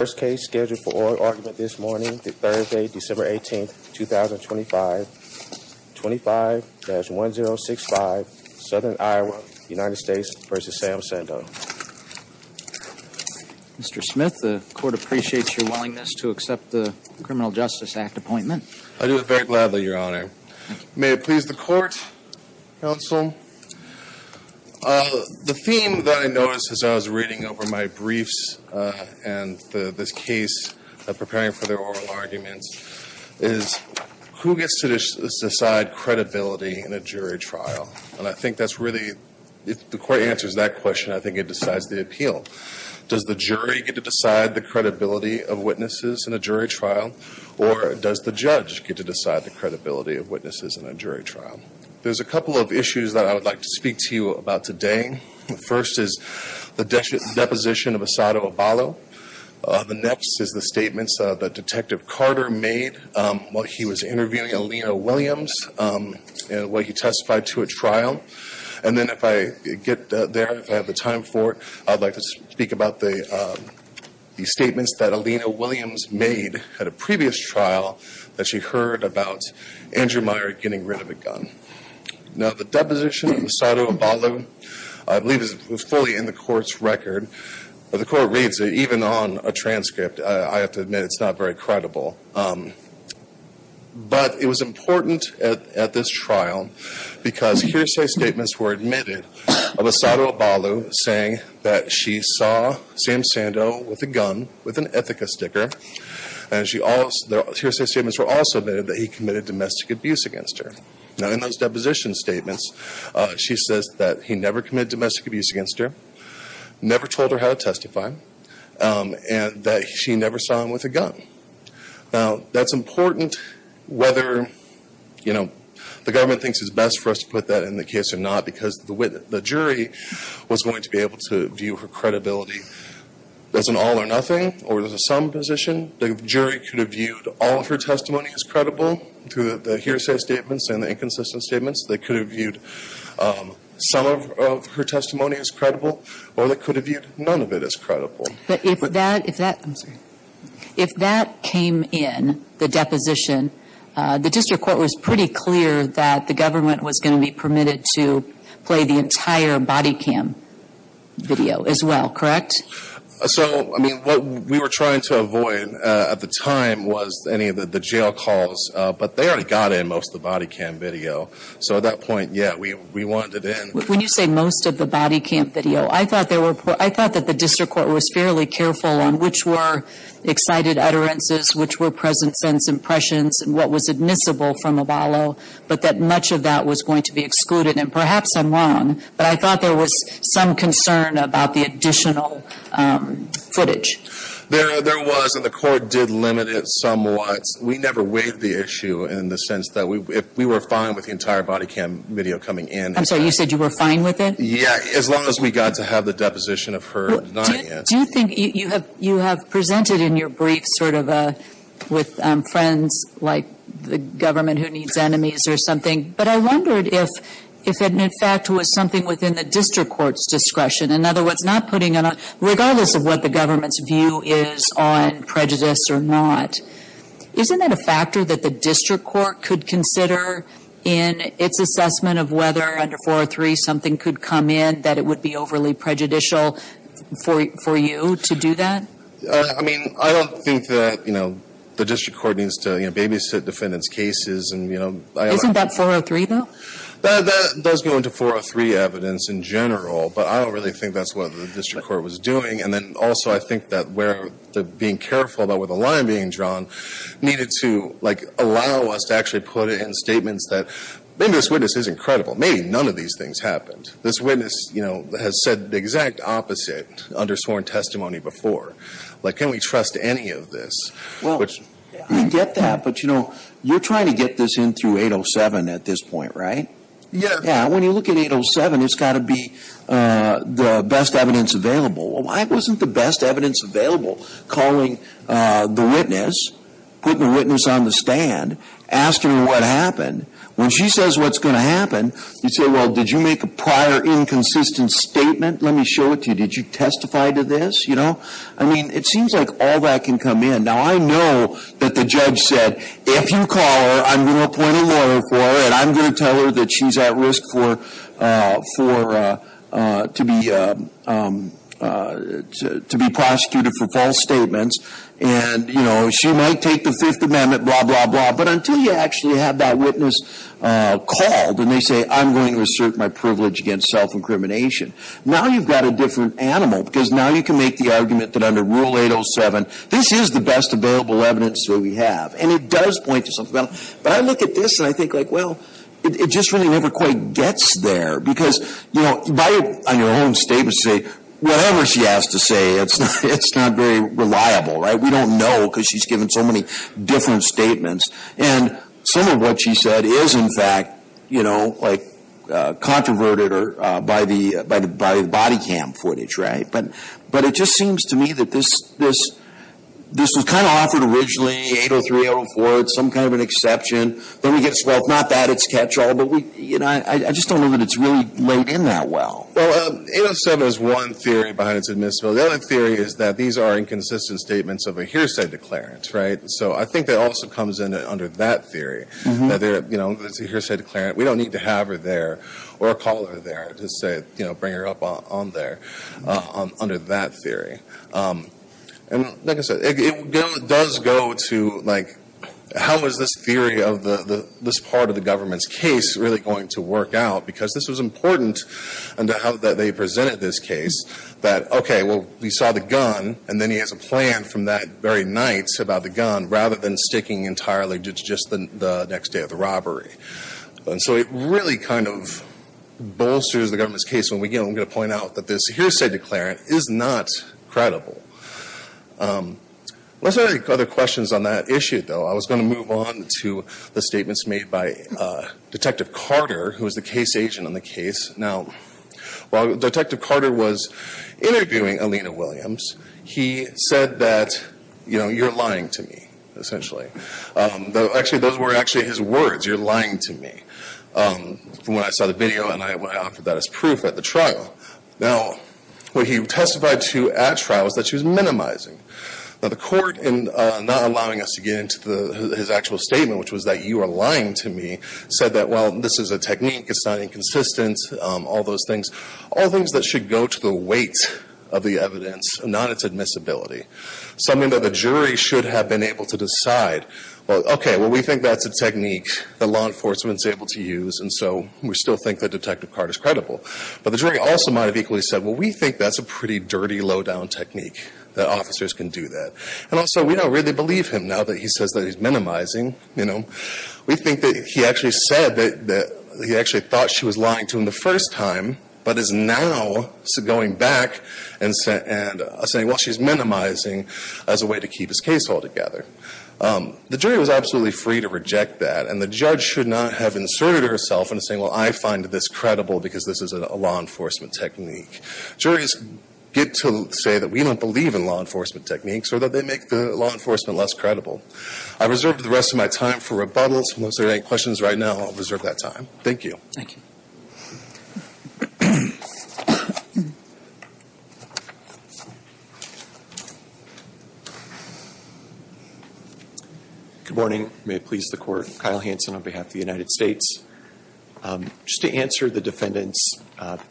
First case scheduled for oral argument this morning, Thursday, December 18, 2025, 25-1065, Southern Iowa, United States v. Sam Sando. Mr. Smith, the Court appreciates your willingness to accept the Criminal Justice Act appointment. I do it very gladly, Your Honor. May it please the Court, Counsel. The theme that I noticed as I was reading over my briefs and this case of preparing for their oral arguments is who gets to decide credibility in a jury trial? And I think that's really, if the Court answers that question, I think it decides the appeal. Does the jury get to decide the credibility of witnesses in a jury trial, or does the judge get to decide the credibility of witnesses in a jury trial? There's a couple of issues that I would like to speak to you about today. First is the deposition of Asado Abalo. The next is the statements that Detective Carter made while he was interviewing Alina Williams while he testified to a trial. And then if I get there, if I have the time for it, I'd like to speak about the statements that Alina Williams made at a previous trial that she heard about Andrew Meyer getting rid of a gun. Now, the deposition of Asado Abalo, I believe, is fully in the Court's record. But the Court reads it, even on a transcript, I have to admit it's not very credible. But it was important at this trial because hearsay statements were admitted of Asado Abalo saying that she saw Sam Sando with a gun with an Ithaca sticker. And hearsay statements were also admitted that he committed domestic abuse against her. Now, in those deposition statements, she says that he never committed domestic abuse against her, never told her how to testify, and that she never saw him with a gun. Now, that's important whether the government thinks it's best for us to put that in the case or not because the jury was going to be able to view her credibility. As an all or nothing, or as a some position, the jury could have viewed all of her testimony as credible through the hearsay statements and the inconsistent statements. They could have viewed some of her testimony as credible, or they could have viewed none of it as credible. But if that, I'm sorry, if that came in, the deposition, the district court was pretty clear that the government was going to be permitted to play the entire body cam video as well, correct? So, I mean, what we were trying to avoid at the time was any of the jail calls, but they already got in most of the body cam video. So at that point, yeah, we wanted it in. When you say most of the body cam video, I thought that the district court was fairly careful on which were excited utterances, which were present sense impressions, and what was admissible from Abalo. But that much of that was going to be excluded. And perhaps I'm wrong, but I thought there was some concern about the additional footage. There was, and the court did limit it somewhat. We never weighed the issue in the sense that we were fine with the entire body cam video coming in. I'm sorry, you said you were fine with it? Yeah, as long as we got to have the deposition of her denying it. Do you think, you have presented in your brief sort of a, with friends like the government who needs enemies or something. But I wondered if it in fact was something within the district court's discretion. In other words, not putting it on, regardless of what the government's view is on prejudice or not. Isn't that a factor that the district court could consider in its assessment of whether under 403, something could come in that it would be overly prejudicial for you to do that? I mean, I don't think that the district court needs to babysit defendants' cases. Isn't that 403 though? That does go into 403 evidence in general, but I don't really think that's what the district court was doing. And then also, I think that being careful about where the line being drawn needed to allow us to actually put it in statements that maybe this witness is incredible, maybe none of these things happened. This witness has said the exact opposite under sworn testimony before. Like, can we trust any of this? Well, I get that, but you're trying to get this in through 807 at this point, right? Yeah. Yeah, when you look at 807, it's gotta be the best evidence available. Well, why wasn't the best evidence available? Calling the witness, putting the witness on the stand, asking what happened. When she says what's going to happen, you say, well, did you make a prior inconsistent statement? Let me show it to you. Did you testify to this? I mean, it seems like all that can come in. Now, I know that the judge said, if you call her, I'm going to appoint a lawyer for her. And I'm going to tell her that she's at risk to be prosecuted for false statements. And she might take the Fifth Amendment, blah, blah, blah. But until you actually have that witness called, and they say, I'm going to assert my privilege against self-incrimination. Now you've got a different animal, because now you can make the argument that under Rule 807, this is the best available evidence that we have. And it does point to something. But I look at this, and I think, well, it just really never quite gets there. Because on your own statement, say, whatever she has to say, it's not very reliable, right? We don't know, because she's given so many different statements. And some of what she said is, in fact, controverted by the body cam footage, right? But it just seems to me that this was kind of offered originally, 803, 804, as some kind of an exception. Then we get to, well, it's not that it's catch-all, but I just don't know that it's really laid in that well. Well, 807 is one theory behind its admissibility. So the other theory is that these are inconsistent statements of a hearsay declarant, right? So I think that also comes in under that theory, that it's a hearsay declarant. We don't need to have her there or call her there to say, bring her up on there, under that theory. And like I said, it does go to how is this theory of this part of the government's case really going to work out? Because this was important in how they presented this case, that, okay, well, we saw the gun. And then he has a plan from that very night about the gun, rather than sticking entirely to just the next day of the robbery. And so it really kind of bolsters the government's case when we get them to point out that this hearsay declarant is not credible. Let's look at other questions on that issue, though. I was going to move on to the statements made by Detective Carter, who was the case agent on the case. Now, while Detective Carter was interviewing Alina Williams, he said that, you're lying to me, essentially. Actually, those were actually his words, you're lying to me, from when I saw the video and I offered that as proof at the trial. Now, what he testified to at trial was that she was minimizing. Now, the court, in not allowing us to get into his actual statement, which was that you are lying to me, said that, well, this is a technique, it's not inconsistent, all those things. All things that should go to the weight of the evidence, not its admissibility. Something that the jury should have been able to decide. Well, okay, well, we think that's a technique that law enforcement's able to use, and so we still think that Detective Carter's credible. But the jury also might have equally said, well, we think that's a pretty dirty, low-down technique, that officers can do that. And also, we don't really believe him now that he says that he's minimizing. We think that he actually said that he actually thought she was lying to him the first time, but is now going back and saying, well, she's minimizing as a way to keep his case altogether. The jury was absolutely free to reject that, and the judge should not have inserted herself into saying, well, I find this credible because this is a law enforcement technique. Juries get to say that we don't believe in law enforcement techniques, or that they make the law enforcement less credible. I reserve the rest of my time for rebuttals. Unless there are any questions right now, I'll reserve that time. Thank you. Thank you. Good morning. May it please the court, Kyle Hanson on behalf of the United States. Just to answer the defendant's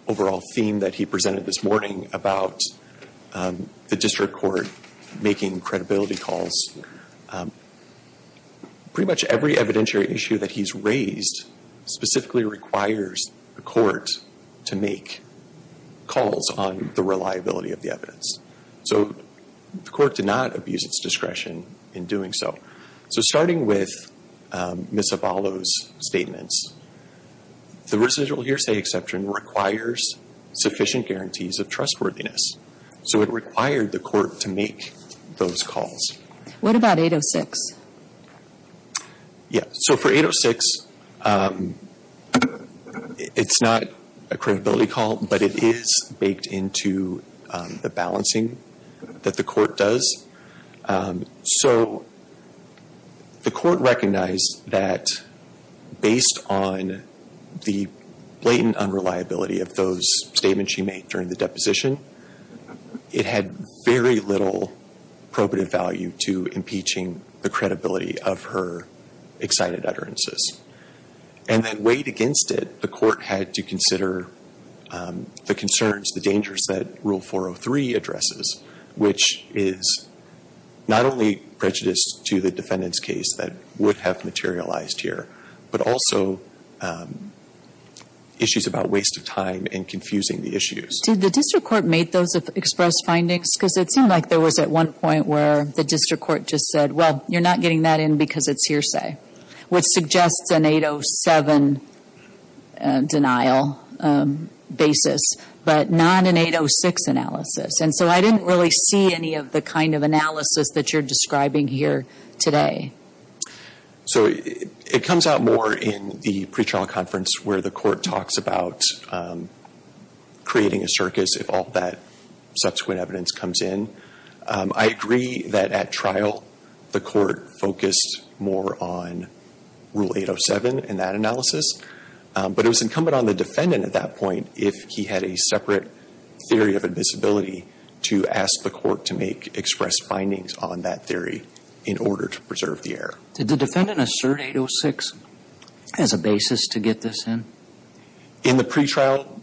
overall theme that he presented this morning about the district court making credibility calls, pretty much every evidentiary issue that he's raised specifically requires the court to make calls on the reliability of the evidence. So the court did not abuse its discretion in doing so. So starting with Ms. Abalo's statements, the residual hearsay exception requires sufficient guarantees of trustworthiness. So it required the court to make those calls. What about 806? Yeah, so for 806, it's not a credibility call, but it is baked into the balancing that the court does. So the court recognized that based on the blatant unreliability of those statements she made during the deposition, it had very little probative value to impeaching the credibility of her excited utterances. And then weighed against it, the court had to consider the concerns, the dangers that Rule 403 addresses, which is not only prejudiced to the defendant's case that would have materialized here, but also issues about waste of time and confusing the issues. Did the district court make those express findings? Because it seemed like there was at one point where the district court just said, well, you're not getting that in because it's hearsay. Which suggests an 807 denial basis. But not an 806 analysis. And so I didn't really see any of the kind of analysis that you're describing here today. So it comes out more in the pre-trial conference where the court talks about creating a circus if all that subsequent evidence comes in. I agree that at trial, the court focused more on Rule 807 in that analysis. But it was incumbent on the defendant at that point if he had a separate theory of admissibility to ask the court to make express findings on that theory in order to preserve the error. Did the defendant assert 806 as a basis to get this in? In the pre-trial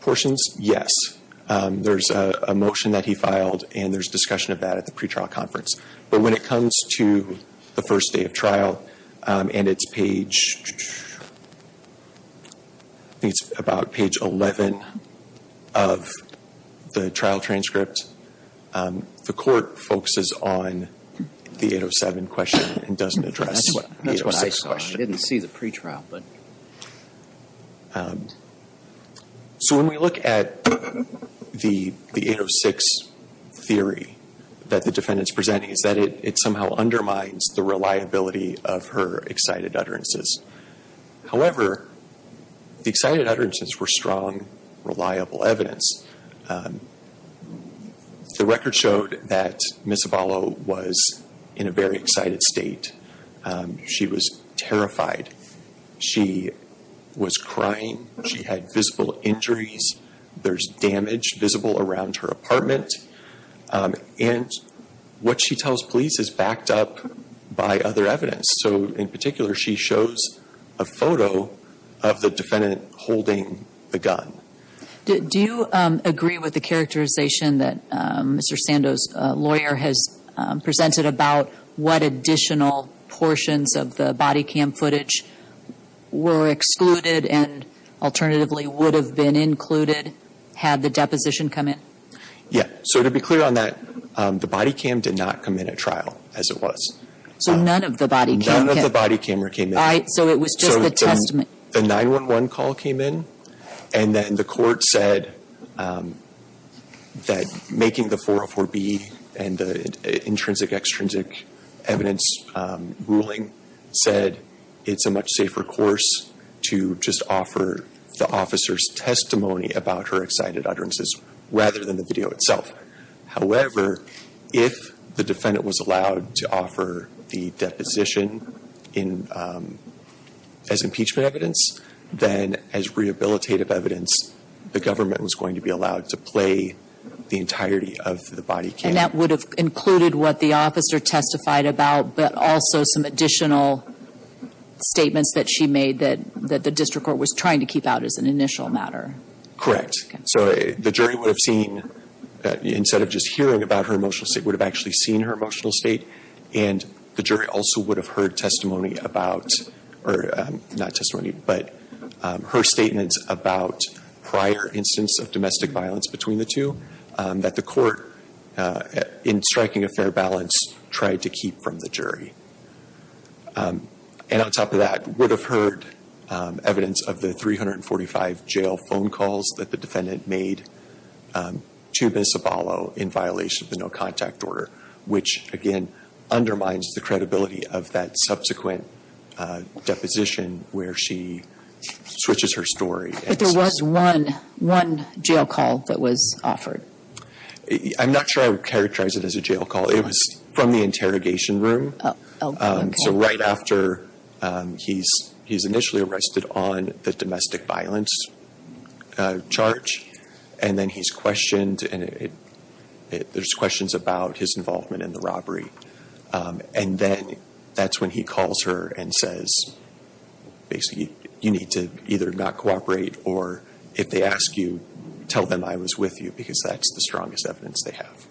portions, yes. There's a motion that he filed and there's discussion of that at the pre-trial conference. But when it comes to the first day of trial and it's page, I think it's about page 11 of the trial transcript. The court focuses on the 807 question and doesn't address the 806 question. That's what I saw. I didn't see the pre-trial, but. So when we look at the 806 theory that the defendant's presenting is that it somehow undermines the reliability of her excited utterances. However, the excited utterances were strong, reliable evidence. The record showed that Ms. Abalo was in a very excited state. She was terrified. She was crying. She had visible injuries. There's damage visible around her apartment. And what she tells police is backed up by other evidence. So in particular, she shows a photo of the defendant holding the gun. Do you agree with the characterization that Mr. Sandoz lawyer has presented about what additional portions of the body cam footage were excluded and alternatively would have been included had the deposition come in? Yeah, so to be clear on that, the body cam did not come in at trial as it was. So none of the body camera came in, right? So it was just the testament. The 911 call came in. And then the court said that making the 404B and the intrinsic extrinsic evidence ruling said it's a much safer course to just offer the officer's testimony about her excited utterances rather than the video itself. However, if the defendant was allowed to offer the deposition as impeachment evidence, then as rehabilitative evidence, the government was going to be allowed to play the entirety of the body cam. And that would have included what the officer testified about, but also some additional statements that she made that the district court was trying to keep out as an initial matter. Correct. So the jury would have seen, instead of just hearing about her emotional state, would have actually seen her emotional state. And the jury also would have heard testimony about, or not testimony, but her statements about prior instance of domestic violence between the two that the court, in striking a fair balance, tried to keep from the jury. And on top of that, would have heard evidence of the 345 jail phone calls that the defendant made to Miss Abalo in violation of the no contact order. Which again, undermines the credibility of that subsequent deposition, where she switches her story. But there was one jail call that was offered. I'm not sure I would characterize it as a jail call. It was from the interrogation room. So right after, he's initially arrested on the domestic violence charge. And then he's questioned, and there's questions about his involvement in the robbery. And then, that's when he calls her and says, basically, you need to either not cooperate, or if they ask you, tell them I was with you, because that's the strongest evidence they have.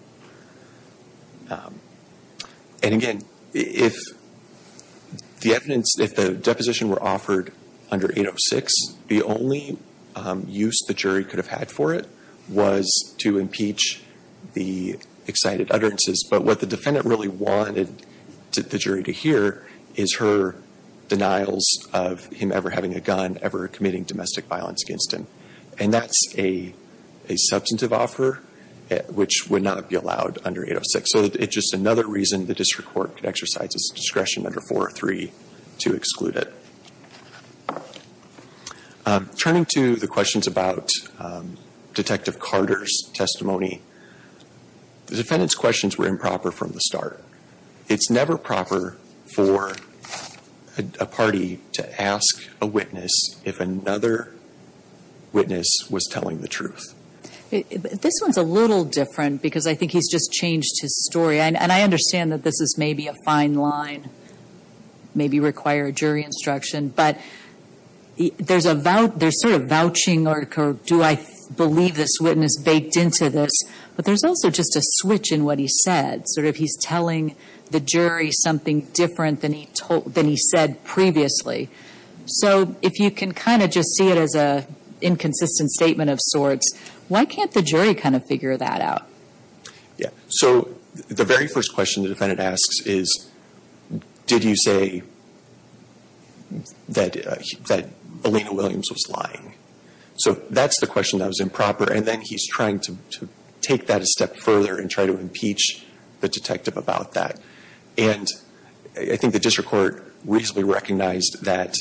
And again, if the deposition were offered under 806, the only use the jury could have had for it was to impeach the excited utterances. But what the defendant really wanted the jury to hear is her denials of him ever having a gun, ever committing domestic violence against him. And that's a substantive offer, which would not be allowed under 806. So it's just another reason the district court could exercise its discretion under 403 to exclude it. Turning to the questions about Detective Carter's testimony, the defendant's questions were improper from the start. It's never proper for a party to ask a witness if another witness was telling the truth. This one's a little different, because I think he's just changed his story. And I understand that this is maybe a fine line, maybe require a jury instruction. But there's sort of vouching, or do I believe this witness baked into this? But there's also just a switch in what he said, sort of he's telling the jury something different than he said previously. So if you can kind of just see it as a inconsistent statement of sorts, why can't the jury kind of figure that out? Yeah, so the very first question the defendant asks is, did you say that Elena Williams was lying? So that's the question that was improper. And then he's trying to take that a step further and try to impeach the detective about that. And I think the district court reasonably recognized that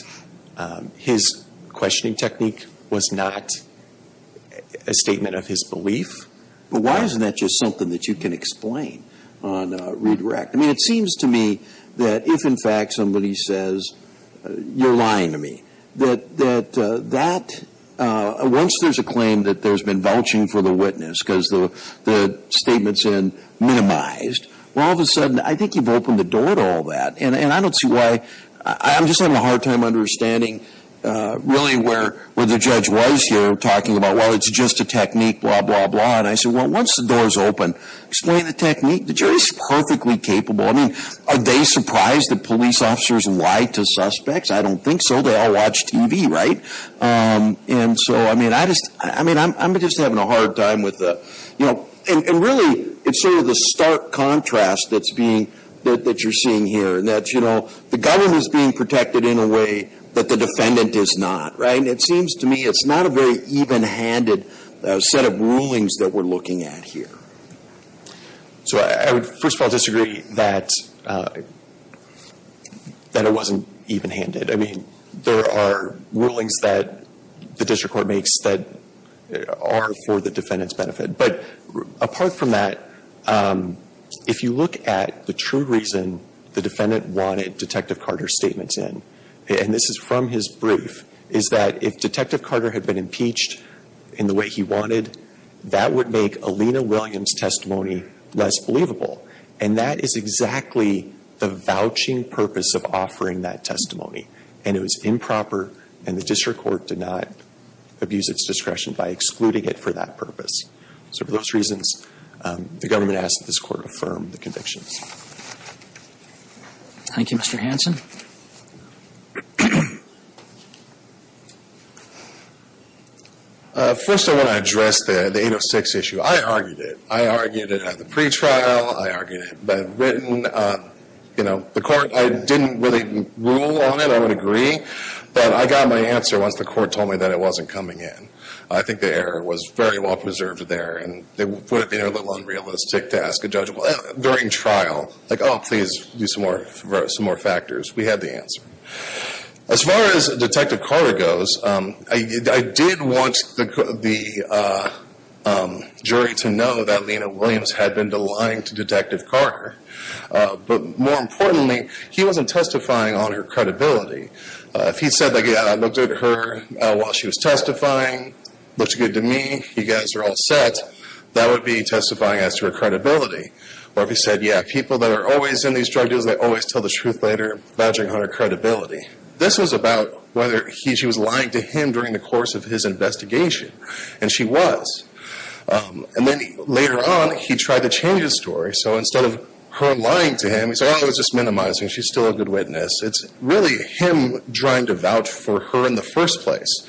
his questioning technique was not a statement of his belief. But why isn't that just something that you can explain on redirect? I mean, it seems to me that if in fact somebody says, you're lying to me. That once there's a claim that there's been vouching for the witness, because the statement's been minimized. Well, all of a sudden, I think you've opened the door to all that. And I don't see why, I'm just having a hard time understanding really where the judge was here talking about, well, it's just a technique, blah, blah, blah. And I said, well, once the door's open, explain the technique. The jury's perfectly capable. I mean, are they surprised that police officers lie to suspects? I don't think so. They all watch TV, right? And so, I mean, I'm just having a hard time with the, and really, it's sort of the stark contrast that you're seeing here. That the government is being protected in a way that the defendant is not, right? And it seems to me it's not a very even-handed set of rulings that we're looking at here. So I would, first of all, disagree that it wasn't even-handed. I mean, there are rulings that the district court makes that are for the defendant's benefit. But apart from that, if you look at the true reason the defendant wanted Detective Carter's statements in, and this is from his brief, is that if Detective Carter had been impeached in the way he wanted, that would make Alina Williams' testimony less believable. And that is exactly the vouching purpose of offering that testimony. And it was improper, and the district court did not abuse its discretion by excluding it for that purpose. So for those reasons, the government asks that this court affirm the convictions. Thank you, Mr. Hanson. First, I want to address the 806 issue. I argued it. I argued it at the pre-trial. I argued it, but the court, I didn't really rule on it, I would agree. But I got my answer once the court told me that it wasn't coming in. I think the error was very well preserved there, and they put it being a little unrealistic to ask a judge during trial. Like, please, do some more factors. We had the answer. As far as Detective Carter goes, I did want the jury to know that Alina Williams had been lying to Detective Carter. But more importantly, he wasn't testifying on her credibility. If he said, yeah, I looked at her while she was testifying, looks good to me, you guys are all set. That would be testifying as to her credibility. Or if he said, yeah, people that are always in these drug deals, they always tell the truth later, badgering on her credibility. This was about whether she was lying to him during the course of his investigation. And she was. And then later on, he tried to change the story. So instead of her lying to him, he said, I was just minimizing. She's still a good witness. It's really him trying to vouch for her in the first place.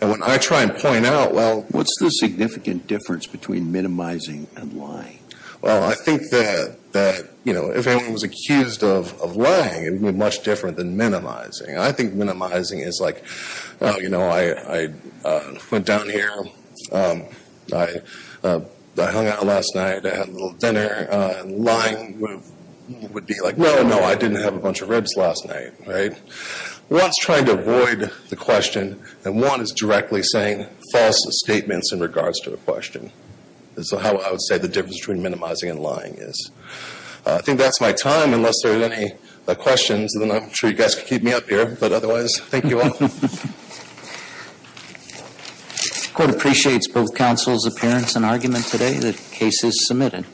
And when I try and point out, well- What's the significant difference between minimizing and lying? Well, I think that if anyone was accused of lying, it would be much different than minimizing. I think minimizing is like, well, I went down here. I hung out last night. I had a little dinner. Lying would be like, no, no, I didn't have a bunch of ribs last night, right? One's trying to avoid the question, and one is directly saying false statements in regards to the question. So how I would say the difference between minimizing and lying is. I think that's my time, unless there's any questions. Then I'm sure you guys can keep me up here. But otherwise, thank you all. The court appreciates both counsel's appearance and argument today. The case is submitted.